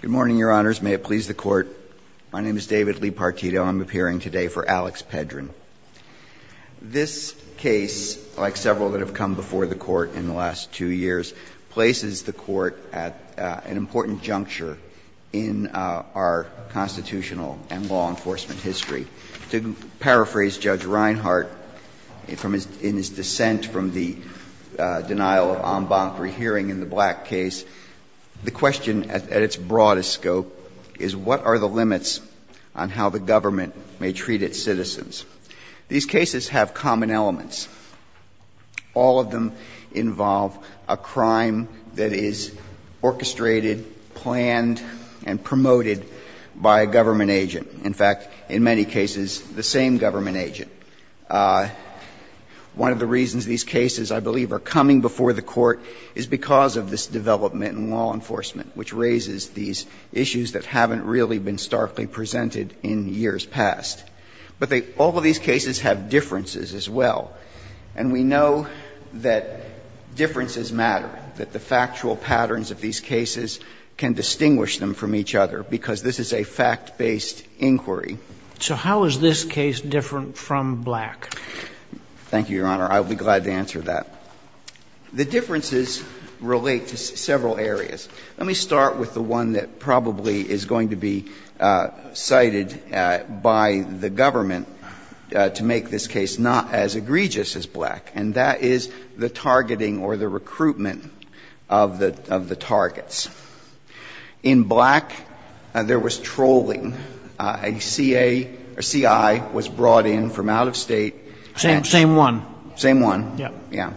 Good morning, Your Honors. May it please the Court, my name is David Lee Partito and I'm appearing today for Alex Pedrin. This case, like several that have come before the court in the last two years, places the court at an important juncture in our constitutional and law enforcement history. To paraphrase Judge Reinhart, in his dissent from the denial of en banc re-hearing in the Black case, the question at its broadest scope is, what are the limits on how the government may treat its citizens? These cases have common elements. All of them involve a crime that is orchestrated, planned, and promoted by a government agent. In fact, in many cases, the same government agent. One of the reasons these cases, I believe, are coming before the court is because of this development in law enforcement, which raises these issues that haven't really been starkly presented in years past. But they all of these cases have differences as well, and we know that differences matter, that the factual patterns of these cases can distinguish them from each other, because this is a fact-based inquiry. So how is this case different from Black? Thank you, Your Honor. I'll be glad to answer that. The differences relate to several areas. Let me start with the one that probably is going to be cited by the government to make this case not as egregious as Black, and that is the targeting or the recruitment of the targets. In Black, there was trolling. A CA or CI was brought in from out of State. Same one. Same one. Yes. Yes.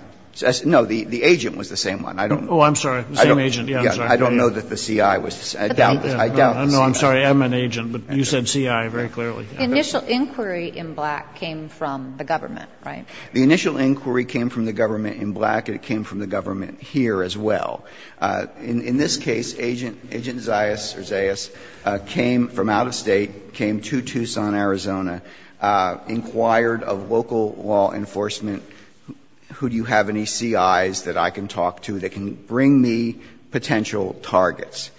No, the agent was the same one. I don't know. Oh, I'm sorry. The same agent. Yes, I'm sorry. I don't know that the CI was the same one. I doubt it. No, I'm sorry. I'm an agent, but you said CI very clearly. The initial inquiry in Black came from the government, right? The initial inquiry came from the government in Black, and it came from the government here as well. In this case, Agent Zayas or Zayas came from out of State, came to Tucson, Arizona, inquired of local law enforcement, who do you have any CIs that I can talk to that can bring me potential targets.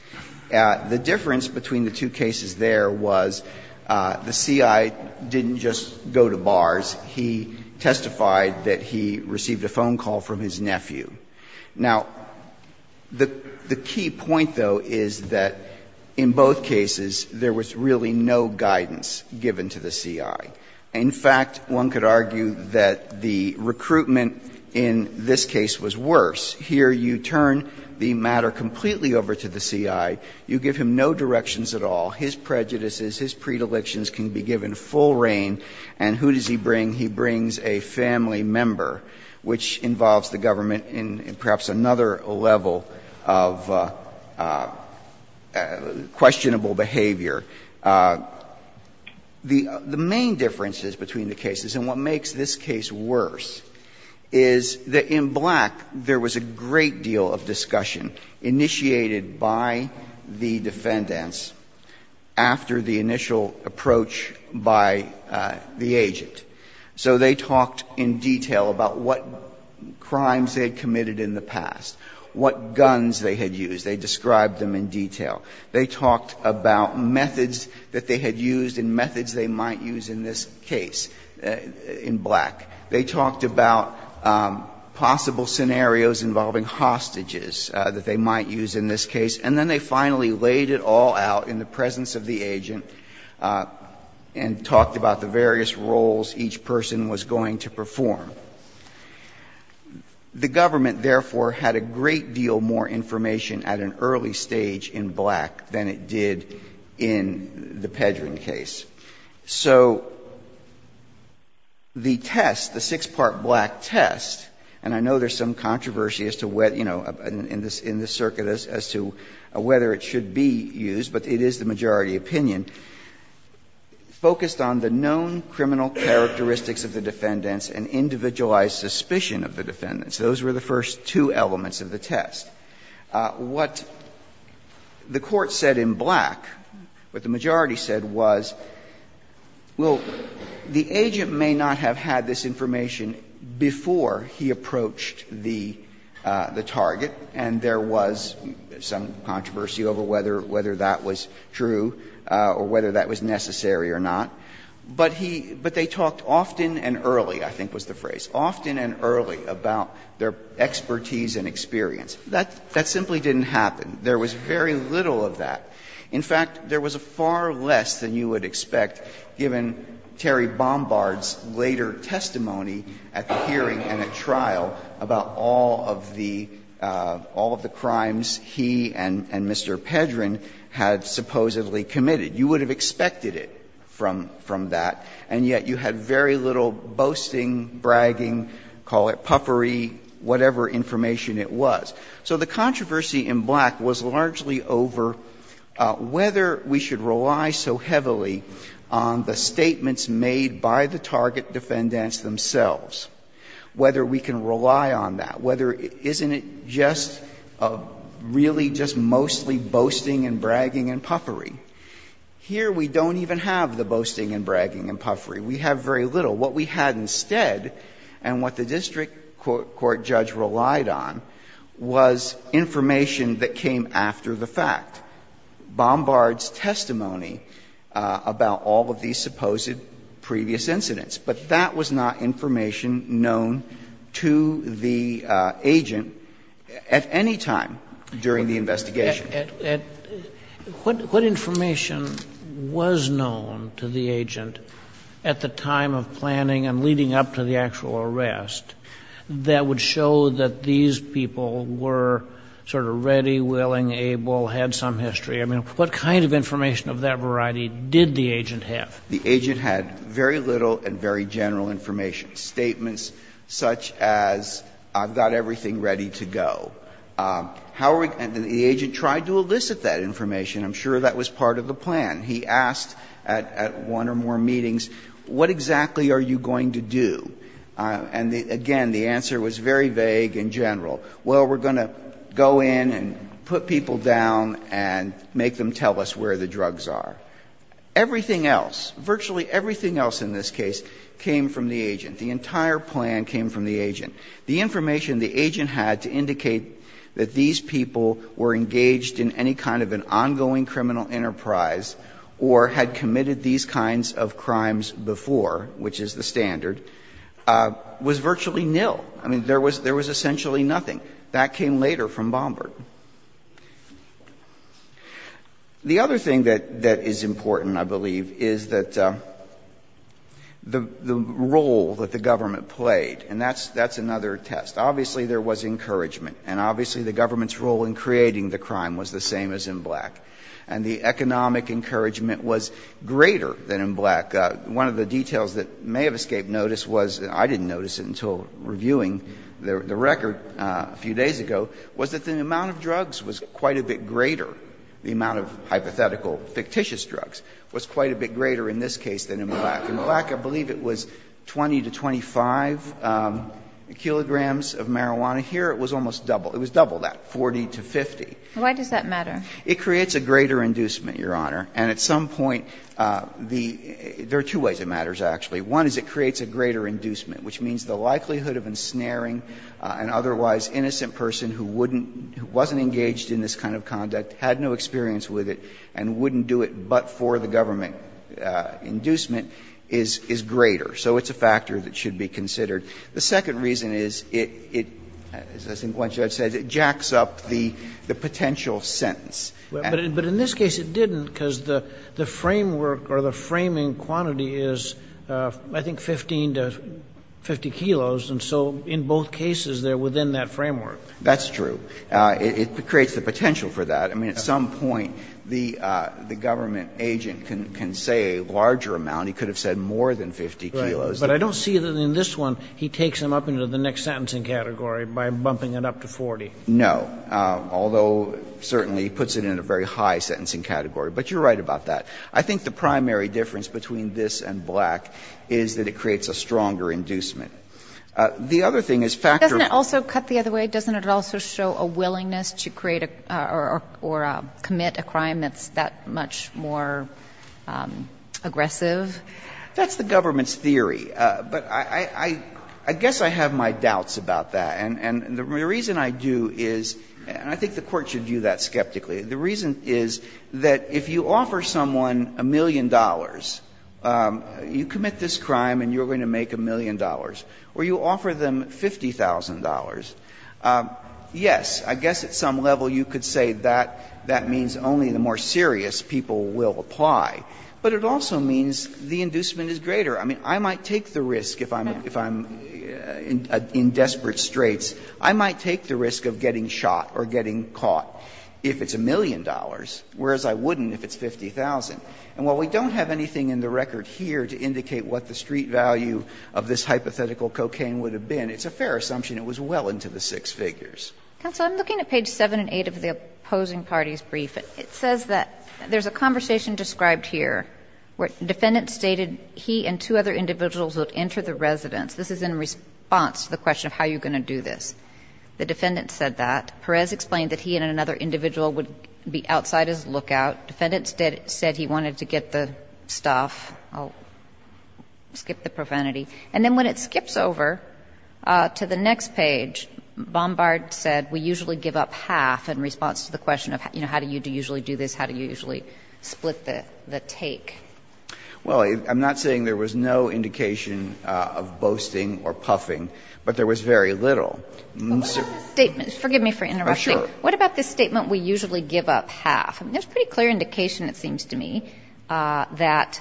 The difference between the two cases there was the CI didn't just go to bars. He testified that he received a phone call from his nephew. Now, the key point, though, is that in both cases there was really no guidance given to the CI. In fact, one could argue that the recruitment in this case was worse. Here you turn the matter completely over to the CI. You give him no directions at all. His prejudices, his predilections can be given full reign. And who does he bring? He brings a family member, which involves the government in perhaps another level of questionable behavior. The main differences between the cases, and what makes this case worse, is that in Black there was a great deal of discussion initiated by the defendants after the initial approach by the agent. So they talked in detail about what crimes they had committed in the past, what guns they had used. They described them in detail. They talked about methods that they had used and methods they might use in this case in Black. They talked about possible scenarios involving hostages that they might use in this case. And then they finally laid it all out in the presence of the agent and talked about the various roles each person was going to perform. The government, therefore, had a great deal more information at an early stage in Black than it did in the Pedrin case. So the test, the six-part Black test, and I know there's some controversy as to whether, you know, in this circuit as to whether it should be used, but it is the majority opinion, focused on the known criminal characteristics of the defendants and individualized suspicion of the defendants. Those were the first two elements of the test. What the Court said in Black, what the majority said was, well, the agent may not have had this information before he approached the target, and there was some controversy over whether that was true or whether that was necessary or not. But he – but they talked often and early, I think was the phrase, often and early about their expertise and experience. That simply didn't happen. There was very little of that. In fact, there was far less than you would expect given Terry Bombard's later testimony at the hearing and at trial about all of the – all of the crimes he and Mr. Pedrin had supposedly committed. You would have expected it from that, and yet you had very little boasting, bragging, call it puffery, whatever information it was. So the controversy in Black was largely over whether we should rely so heavily on the statements made by the target defendants themselves, whether we can rely on that, whether – isn't it just really just mostly boasting and bragging and puffery? Here we don't even have the boasting and bragging and puffery. We have very little. What we had instead and what the district court judge relied on was information that came after the fact. And that's why we don't have Bombard's testimony about all of these supposed previous incidents, but that was not information known to the agent at any time during the investigation. Sotomayor What information was known to the agent at the time of planning and leading up to the actual arrest that would show that these people were sort of ready, willing, able, had some history? I mean, what kind of information of that variety did the agent have? Verrilli, The agent had very little and very general information. Statements such as, I've got everything ready to go. How are we – and the agent tried to elicit that information. I'm sure that was part of the plan. He asked at one or more meetings, what exactly are you going to do? And again, the answer was very vague and general. Well, we're going to go in and put people down and make them tell us where the drugs are. Everything else, virtually everything else in this case, came from the agent. The entire plan came from the agent. The information the agent had to indicate that these people were engaged in any kind of an ongoing criminal enterprise or had committed these kinds of crimes before, which is the standard, was virtually nil. I mean, there was essentially nothing. That came later from Bombard. The other thing that is important, I believe, is that the role that the government played, and that's another test. Obviously, there was encouragement, and obviously the government's role in creating the crime was the same as in Black. And the economic encouragement was greater than in Black. One of the details that may have escaped notice was, and I didn't notice it until reviewing the record a few days ago, was that the amount of drugs was quite a bit greater, the amount of hypothetical fictitious drugs was quite a bit greater in this case than in Black. In Black, I believe it was 20 to 25 kilograms of marijuana. Here, it was almost double. It was double that, 40 to 50. Why does that matter? It creates a greater inducement, Your Honor. And at some point, the – there are two ways it matters, actually. One is it creates a greater inducement, which means the likelihood of ensnaring an otherwise innocent person who wouldn't – who wasn't engaged in this kind of conduct, had no experience with it, and wouldn't do it but for the government inducement is greater. So it's a factor that should be considered. The second reason is it, as I think Gwen said, it jacks up the potential sentence. But in this case, it didn't, because the framework or the framing quantity is, I think, 15 to 50 kilos, and so in both cases, they're within that framework. That's true. It creates the potential for that. I mean, at some point, the government agent can say a larger amount. He could have said more than 50 kilos. But I don't see that in this one, he takes them up into the next sentencing category by bumping it up to 40. No, although certainly puts it in a very high sentencing category. But you're right about that. I think the primary difference between this and Black is that it creates a stronger inducement. The other thing is factor of the other way. Doesn't it also show a willingness to create or commit a crime that's that much more aggressive? That's the government's theory. But I guess I have my doubts about that. And the reason I do is, and I think the Court should view that skeptically, the reason is that if you offer someone a million dollars, you commit this crime and you're going to make a million dollars, or you offer them $50,000, yes, I guess at some level you could say that that means only the more serious people will apply. But it also means the inducement is greater. I mean, I might take the risk, if I'm in desperate straits, I might take the risk of getting shot or getting caught if it's a million dollars, whereas I wouldn't if it's $50,000. And while we don't have anything in the record here to indicate what the street value of this hypothetical cocaine would have been, it's a fair assumption it was well into the six figures. Kagan, I'm looking at page 7 and 8 of the opposing party's brief. The defendant said that two other individuals would enter the residence. This is in response to the question of how you're going to do this. The defendant said that. Perez explained that he and another individual would be outside his lookout. Defendant said he wanted to get the stuff. I'll skip the profanity. And then when it skips over to the next page, Bombard said, we usually give up half in response to the question of, you know, how do you usually do this, how do you usually split the take. Well, I'm not saying there was no indication of boasting or puffing, but there was very little. What about this statement? Forgive me for interrupting. What about this statement, we usually give up half? There's a pretty clear indication, it seems to me, that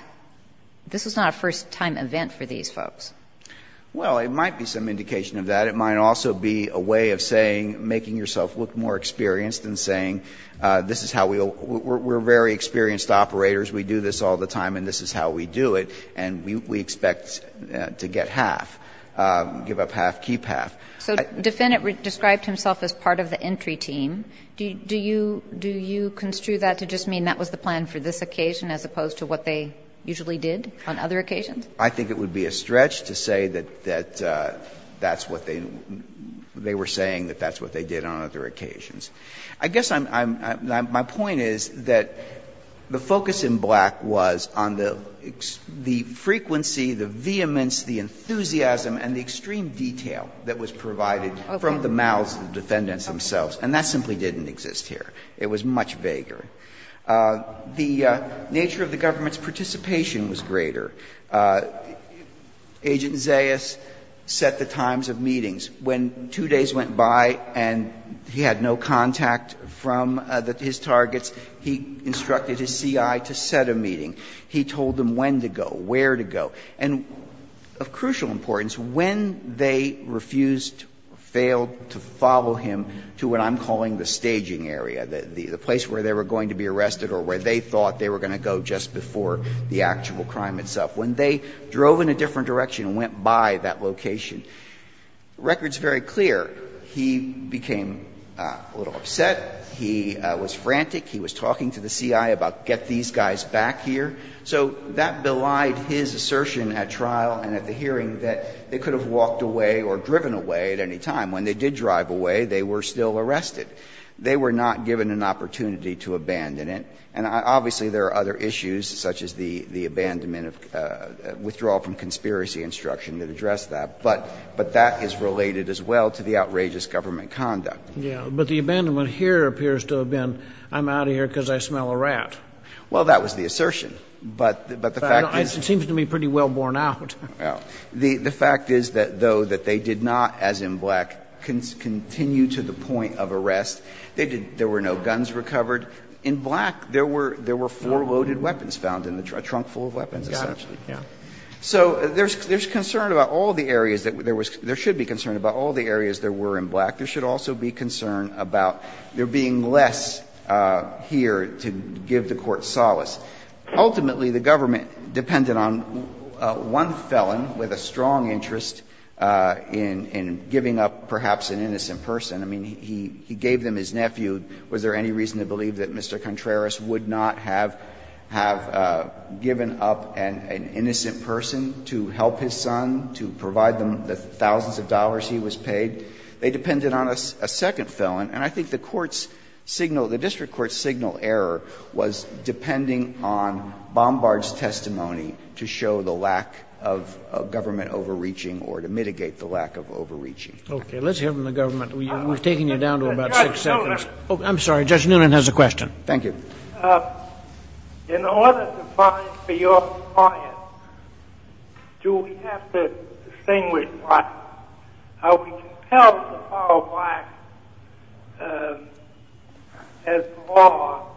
this was not a first-time event for these folks. Well, it might be some indication of that. It might also be a way of saying, making yourself look more experienced, and saying this is how we'll we're very experienced operators. We do this all the time and this is how we do it, and we expect to get half, give up half, keep half. So defendant described himself as part of the entry team. Do you construe that to just mean that was the plan for this occasion as opposed to what they usually did on other occasions? I think it would be a stretch to say that that's what they were saying, that that's what they did on other occasions. I guess I'm my point is that the focus in Black was on the frequency, the vehemence, the enthusiasm, and the extreme detail that was provided from the mouths of the defendants themselves, and that simply didn't exist here. It was much vaguer. The nature of the government's participation was greater. Agent Zayas set the times of meetings. When two days went by and he had no contact from his targets, he instructed his C.I. to set a meeting. He told them when to go, where to go. And of crucial importance, when they refused, failed to follow him to what I'm calling the staging area, the place where they were going to be arrested or where they thought they were going to go just before the actual crime itself, when they drove in a different direction and went by that location, the record is very clear. He became a little upset. He was frantic. He was talking to the C.I. about get these guys back here. So that belied his assertion at trial and at the hearing that they could have walked away or driven away at any time. When they did drive away, they were still arrested. They were not given an opportunity to abandon it. And obviously, there are other issues such as the abandonment of the withdrawal from conspiracy instruction that address that. But that is related as well to the outrageous government conduct. Kennedy. But the abandonment here appears to have been I'm out of here because I smell a rat. Well, that was the assertion. But the fact is the fact is that though that they did not, as in Black, continue to the point of arrest, there were no guns recovered. In Black, there were four loaded weapons found in the trunk, a trunk full of weapons, essentially. So there's concern about all the areas that there was – there should be concern about all the areas there were in Black. There should also be concern about there being less here to give the Court solace. Ultimately, the government depended on one felon with a strong interest in giving up perhaps an innocent person. I mean, he gave them his nephew. Was there any reason to believe that Mr. Contreras would not have given up an innocent person to help his son, to provide them the thousands of dollars he was paid? They depended on a second felon. And I think the court's signal, the district court's signal error was depending on Bombard's testimony to show the lack of government overreaching or to mitigate the lack of overreaching. Okay. Let's hear from the government. We've taken you down to about six seconds. I'm sorry. Judge Noonan has a question. Thank you. In order to fight for your client, do we have to distinguish black? Are we compelled to follow black as the law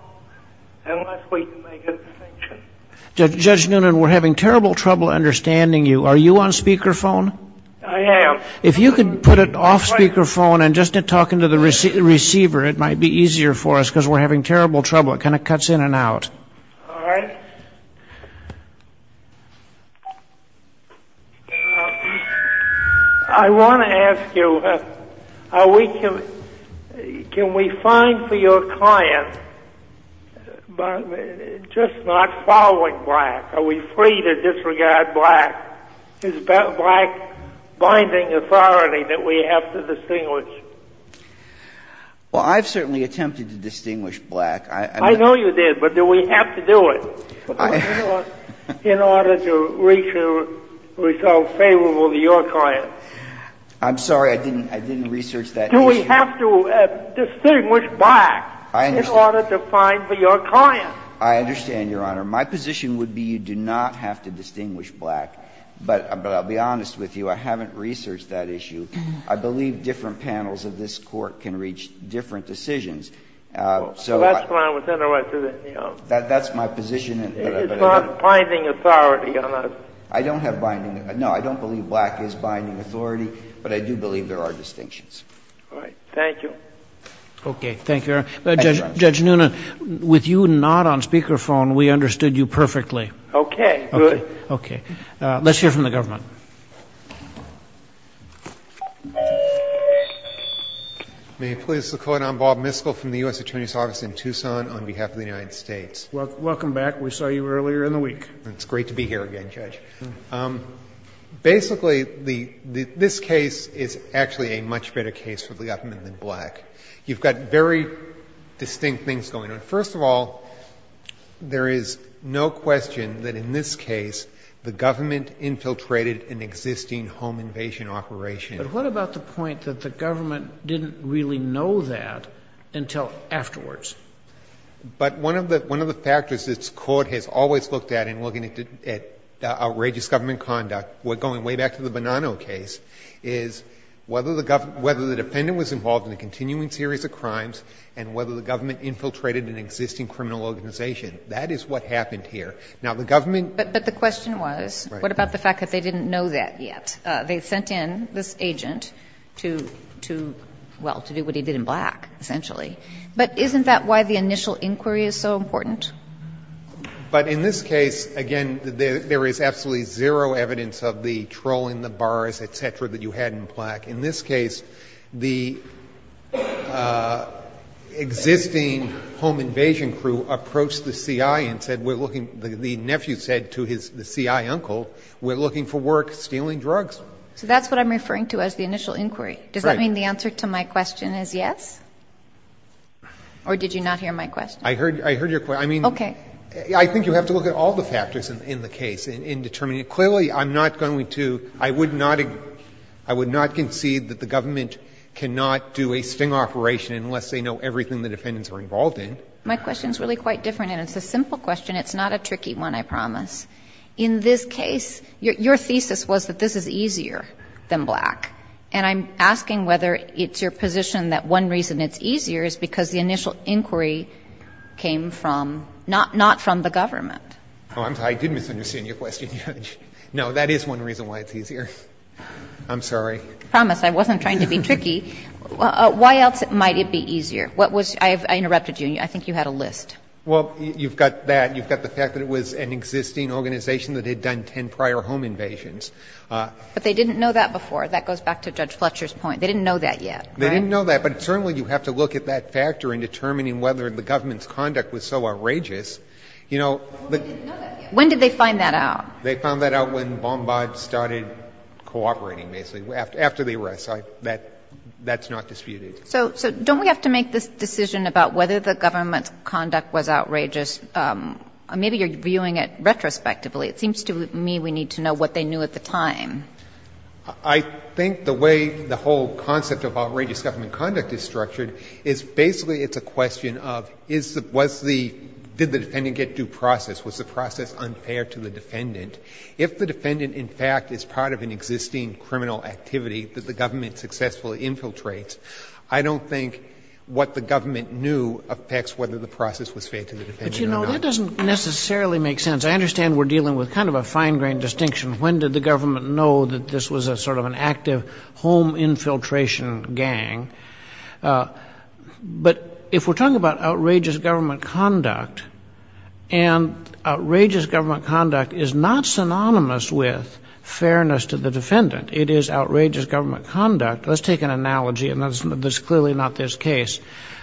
unless we can make a distinction? Judge Noonan, we're having terrible trouble understanding you. Are you on speakerphone? I am. If you could put it off speakerphone and just talk into the receiver, it might be easier for us because we're having terrible trouble. It kind of cuts in and out. All right. I want to ask you, can we find for your client just not following black? Are we free to disregard black? Is black binding authority that we have to distinguish? Well, I've certainly attempted to distinguish black. I know you did, but do we have to do it in order to reach a result favorable to your client? I'm sorry. I didn't research that. Do we have to distinguish black in order to find for your client? I understand, Your Honor. My position would be you do not have to distinguish black, but I'll be honest with you, I haven't researched that issue. I believe different panels of this Court can reach different decisions. So I don't have binding authority. No, I don't believe black is binding authority, but I do believe there are distinctions. Thank you. Okay. Thank you, Your Honor. Judge Nunez, with you not on speaker phone, we understood you perfectly. Okay. Good. Okay. Let's hear from the government. May it please the Court, I'm Bob Miskell from the U.S. Attorney's Office in Tucson on behalf of the United States. Welcome back. We saw you earlier in the week. It's great to be here again, Judge. Basically, this case is actually a much better case for the government than black. You've got very distinct things going on. First of all, there is no question that in this case the government infiltrated an existing home invasion operation. But what about the point that the government didn't really know that until afterwards? But one of the factors this Court has always looked at in looking at outrageous government conduct, going way back to the Bonanno case, is whether the defendant was involved in a continuing series of crimes and whether the government infiltrated an existing criminal organization. That is what happened here. Now, the government — But the question was, what about the fact that they didn't know that yet? They sent in this agent to, well, to do what he did in black, essentially. But isn't that why the initial inquiry is so important? But in this case, again, there is absolutely zero evidence of the trolling, the bars, et cetera, that you had in black. In this case, the existing home invasion crew approached the CI and said, we're looking — the nephew said to the CI uncle, we're looking for work stealing drugs. So that's what I'm referring to as the initial inquiry. Right. Does that mean the answer to my question is yes? Or did you not hear my question? I heard your question. I mean, I think you have to look at all the factors in the case in determining I mean, clearly, I'm not going to — I would not — I would not concede that the government cannot do a sting operation unless they know everything the defendants were involved in. My question is really quite different, and it's a simple question. It's not a tricky one, I promise. In this case, your thesis was that this is easier than black. And I'm asking whether it's your position that one reason it's easier is because the initial inquiry came from — not from the government. Oh, I'm sorry. I did misunderstand your question, Judge. No, that is one reason why it's easier. I'm sorry. I promise. I wasn't trying to be tricky. Why else might it be easier? What was — I interrupted you. I think you had a list. Well, you've got that. You've got the fact that it was an existing organization that had done ten prior home invasions. But they didn't know that before. That goes back to Judge Fletcher's point. They didn't know that yet. They didn't know that, but certainly you have to look at that factor in determining whether the government's conduct was so outrageous. You know — Well, they didn't know that yet. When did they find that out? They found that out when Bombard started cooperating, basically, after the arrest. That's not disputed. So don't we have to make this decision about whether the government's conduct was outrageous? Maybe you're viewing it retrospectively. It seems to me we need to know what they knew at the time. I think the way the whole concept of outrageous government conduct is structured is basically it's a question of is the — was the — did the defendant get due process? Was the process unfair to the defendant? If the defendant, in fact, is part of an existing criminal activity that the government successfully infiltrates, I don't think what the government knew affects whether the process was fair to the defendant or not. But, you know, that doesn't necessarily make sense. I understand we're dealing with kind of a fine-grained distinction. When did the government know that this was a sort of an active home infiltration gang? But if we're talking about outrageous government conduct, and outrageous government conduct is not synonymous with fairness to the defendant, it is outrageous government conduct — let's take an analogy, and that's clearly not this case.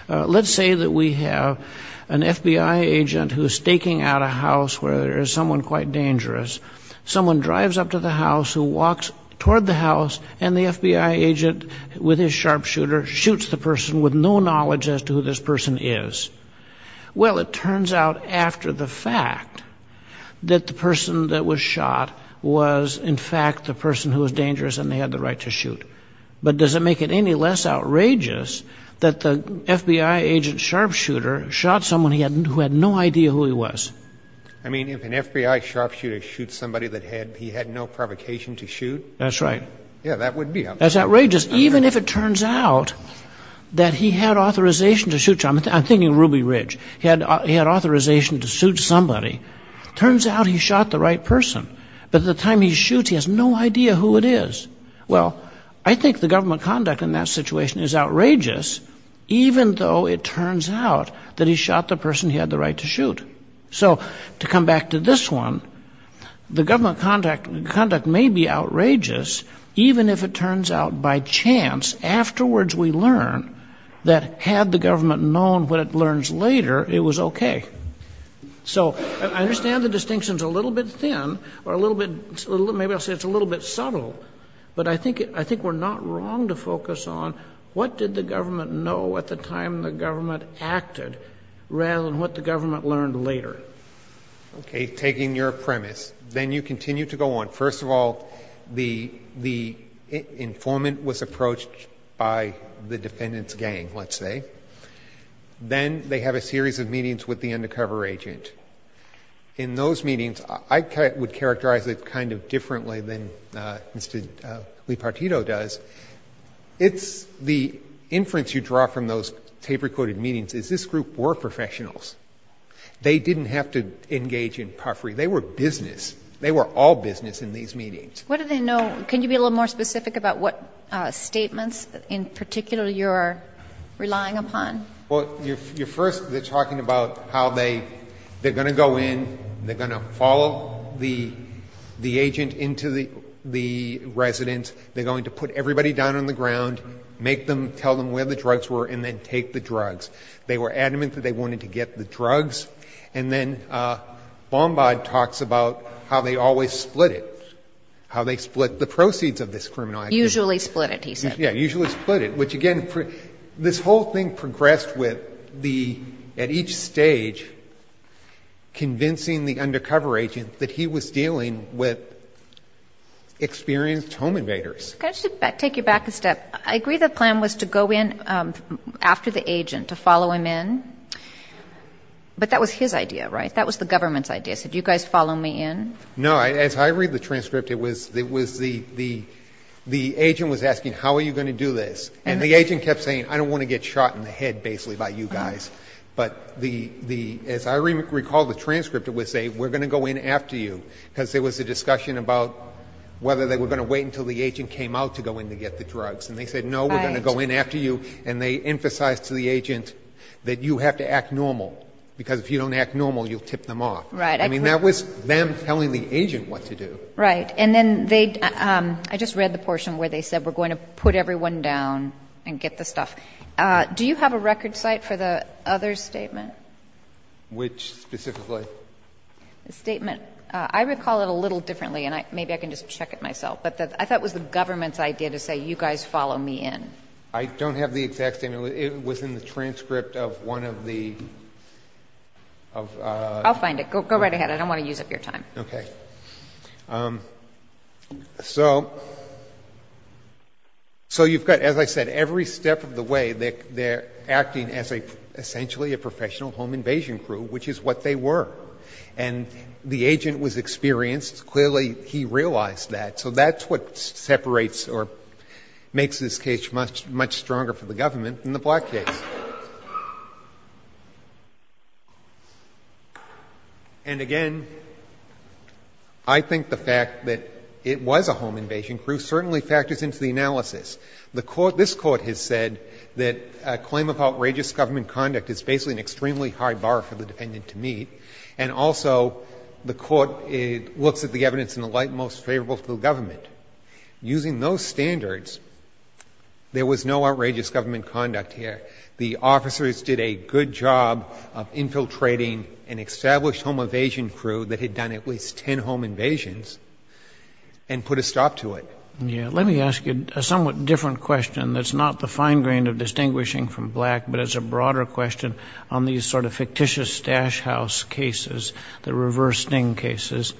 Let's say that we have an FBI agent who's staking out a house where there is someone quite dangerous. Someone drives up to the house, who walks toward the house, and the FBI agent, with his sharpshooter, shoots the person with no knowledge as to who this person is. Well, it turns out, after the fact, that the person that was shot was, in fact, the person who was dangerous, and they had the right to shoot. But does it make it any less outrageous that the FBI agent sharpshooter shot someone he hadn't — who had no idea who he was? I mean, if an FBI sharpshooter shoots somebody that had — he had no provocation to shoot — That's right. Yeah, that would be — That's outrageous, even if it turns out that he had authorization to shoot — I'm thinking of Ruby Ridge. He had authorization to shoot somebody. Turns out he shot the right person, but at the time he shoots, he has no idea who it is. Well, I think the government conduct in that situation is outrageous, even though it turns out that he shot the person he had the right to shoot. So to come back to this one, the government conduct may be outrageous, even if it turns out by chance afterwards we learn that had the government known what it learns later, it was okay. So I understand the distinction's a little bit thin, or a little bit — maybe I'll say it's a little bit subtle, but I think we're not wrong to focus on what did the government know at the time the government acted, rather than what the government learned later. Okay. Taking your premise, then you continue to go on. First of all, the informant was approached by the defendant's gang, let's say. Then they have a series of meetings with the undercover agent. In those meetings, I would characterize it kind of differently than Mr. Lipartito does. It's the inference you draw from those tape-recorded meetings is this group were professionals. They didn't have to engage in puffery. They were business. They were business in these meetings. What do they know? Can you be a little more specific about what statements in particular you're relying upon? Well, first they're talking about how they're going to go in, they're going to follow the agent into the residence, they're going to put everybody down on the ground, make them, tell them where the drugs were, and then take the drugs. They were adamant that they wanted to get the drugs. And then Bombard talks about how they always split it, how they split the proceeds of this criminal activity. Usually split it, he said. Yeah, usually split it, which again, this whole thing progressed with the, at each stage, convincing the undercover agent that he was dealing with experienced home invaders. Can I just take you back a step? I agree the plan was to go in after the agent, to follow him in. But that was his idea, right? That was the government's idea. So do you guys follow me in? No. As I read the transcript, it was the agent was asking, how are you going to do this? And the agent kept saying, I don't want to get shot in the head, basically, by you guys. But as I recall the transcript, it would say, we're going to go in after you. Because there was a discussion about whether they were going to wait until the agent came out to go in to get the drugs. Right. And they said, no, we're going to go in after you. And they emphasized to the agent that you have to act normal, because if you don't act normal, you'll tip them off. Right. I mean, that was them telling the agent what to do. Right. And then they, I just read the portion where they said, we're going to put everyone down and get the stuff. Do you have a record cite for the other statement? Which specifically? The statement, I recall it a little differently, and maybe I can just check it myself. But I thought it was the government's idea to say, you guys follow me in. I don't have the exact statement. It was in the transcript of one of the of the. I'll find it. Go right ahead. I don't want to use up your time. Okay. So you've got, as I said, every step of the way, they're acting as essentially a professional home invasion crew, which is what they were. And the agent was experienced. Clearly he realized that. So that's what separates or makes this case much, much stronger for the government than the Black case. And again, I think the fact that it was a home invasion crew certainly factors into the analysis. The Court, this Court has said that a claim of outrageous government conduct is basically an extremely high bar for the defendant to meet. And also the Court looks at the evidence in the light most favorable to the government. Using those standards, there was no outrageous government conduct here. The officers did a good job of infiltrating an established home invasion crew that had done at least ten home invasions and put a stop to it. Let me ask you a somewhat different question that's not the fine grain of distinguishing from Black, but it's a broader question on these sort of fictitious stash house cases, the reverse sting cases.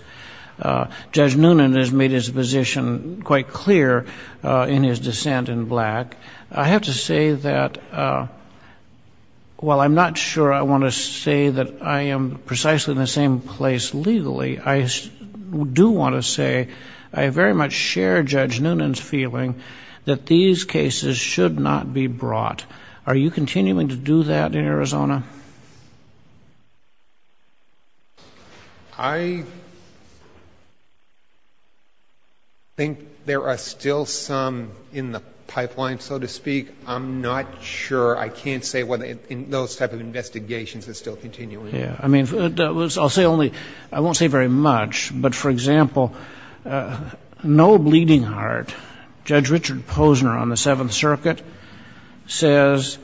Judge Noonan has made his position quite clear in his dissent in Black. I have to say that while I'm not sure I want to say that I am precisely in the same place legally, I do want to say I very much share Judge Noonan's feeling that these cases should not be brought. Are you continuing to do that in Arizona? I think there are still some in the pipeline, so to speak. I'm not sure. I can't say whether in those type of investigations it's still continuing. Yeah. I mean, I'll say only, I won't say very much, but for example, no bleeding heart, Judge Richard Posner on the Seventh Circuit says,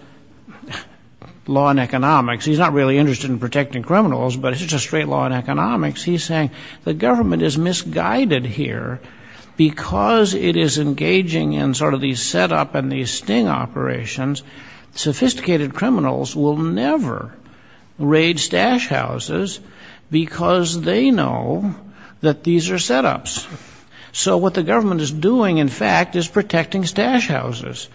law and economics, he's not really interested in protecting criminals, but it's just straight law and economics. He's saying the government is misguided here because it is engaging in sort of these setup and these sting operations. Sophisticated criminals will never raid stash houses because they know that these are setups. So what the government is doing, in fact, is protecting stash houses.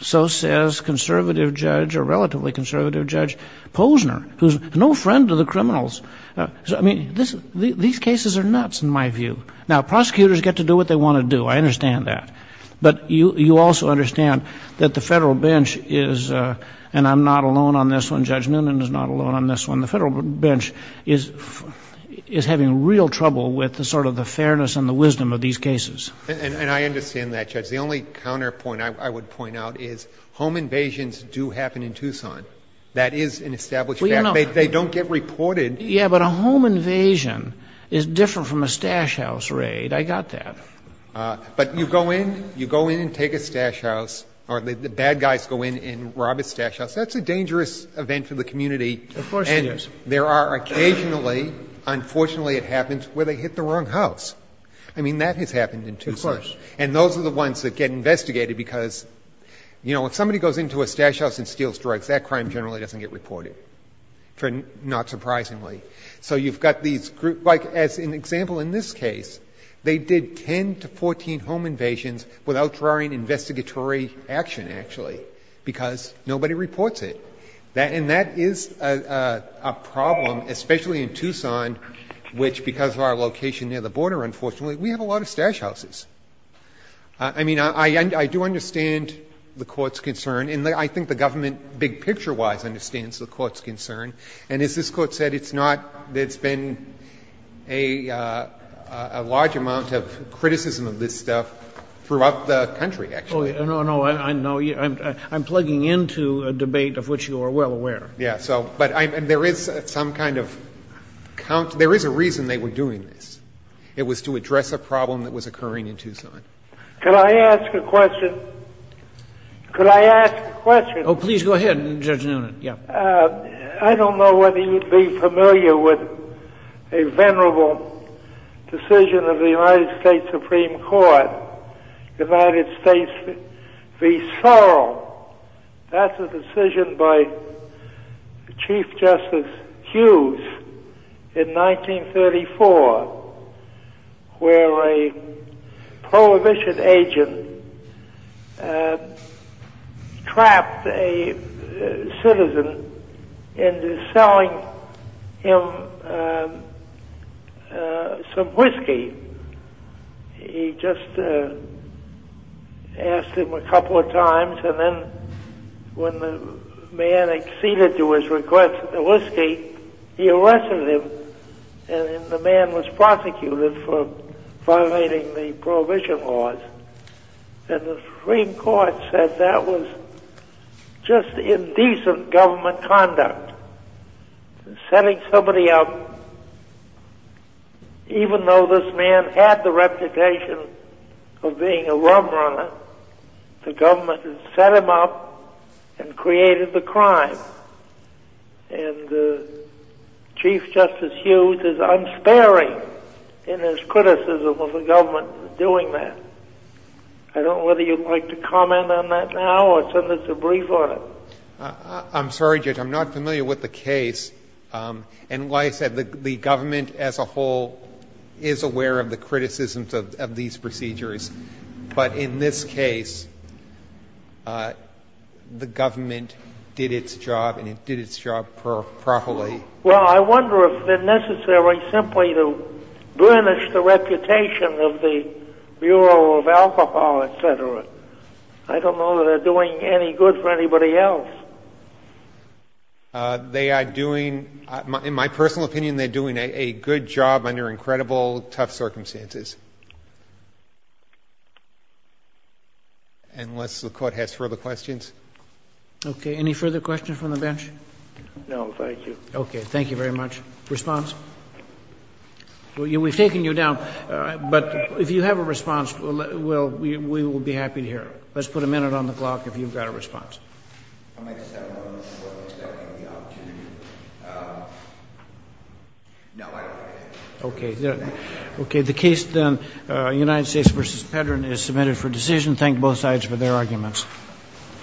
So says conservative judge or relatively conservative judge Posner, who's no friend to the criminals. I mean, these cases are nuts in my view. Now, prosecutors get to do what they want to do. I understand that. But you also understand that the federal bench is, and I'm not alone on this one, Judge Noonan is not alone on this one, the federal bench is having real trouble with the sort of the fairness and the wisdom of these cases. And I understand that, Judge. The only counterpoint I would point out is home invasions do happen in Tucson. That is an established fact. They don't get reported. Yeah, but a home invasion is different from a stash house raid. I got that. But you go in, you go in and take a stash house, or the bad guys go in and rob a stash house, that's a dangerous event for the community. Of course it is. There are occasionally, unfortunately it happens, where they hit the wrong house. I mean, that has happened in Tucson. Of course. And those are the ones that get investigated, because, you know, if somebody goes into a stash house and steals drugs, that crime generally doesn't get reported, not surprisingly. So you've got these groups. Like, as an example in this case, they did 10 to 14 home invasions without drawing investigatory action, actually, because nobody reports it. And that is a problem, especially in Tucson, which, because of our location near the border, unfortunately, we have a lot of stash houses. I mean, I do understand the Court's concern, and I think the government big picture wise understands the Court's concern. And as this Court said, it's not that it's been a large amount of criticism of this stuff throughout the country, actually. No, no, I'm plugging into a debate of which you are well aware. Yeah, so, but there is some kind of, there is a reason they were doing this. It was to address a problem that was occurring in Tucson. Could I ask a question? Could I ask a question? Oh, please go ahead, Judge Noonan. Yeah. I don't know whether you'd be familiar with a venerable decision of the United States v. Sorrell. That's a decision by Chief Justice Hughes in 1934, where a prohibition agent trapped a citizen into selling him some whiskey. He just asked him a couple of times, and then when the man acceded to his request for the whiskey, he arrested him, and then the man was prosecuted for violating the Prohibition laws, and the Supreme Court said that was just indecent government conduct, setting somebody up. Even though this man had the reputation of being a rum runner, the government had set him up and created the crime, and Chief Justice Hughes is unsparing in his criticism of the government doing that. I don't know whether you'd like to comment on that now, or send us a brief on it. I'm sorry, Judge. I'm not familiar with the case. And like I said, the government as a whole is aware of the criticisms of these procedures. But in this case, the government did its job, and it did its job properly. Well, I wonder if it's necessary simply to burnish the reputation of the Bureau of Alcohol, et cetera. I don't know that they're doing any good for anybody else. In my personal opinion, they're doing a good job under incredible, tough circumstances. Unless the Court has further questions. Okay. Any further questions from the bench? No, thank you. Okay. Thank you very much. Response? We've taken you down. But if you have a response, we will be happy to hear it. Let's put a minute on the clock if you've got a response. I might just have one more short one, expecting the opportunity. No, I don't think I have. Okay. Okay. The case, then, United States v. Pedran, is submitted for decision. Thank both sides for their arguments.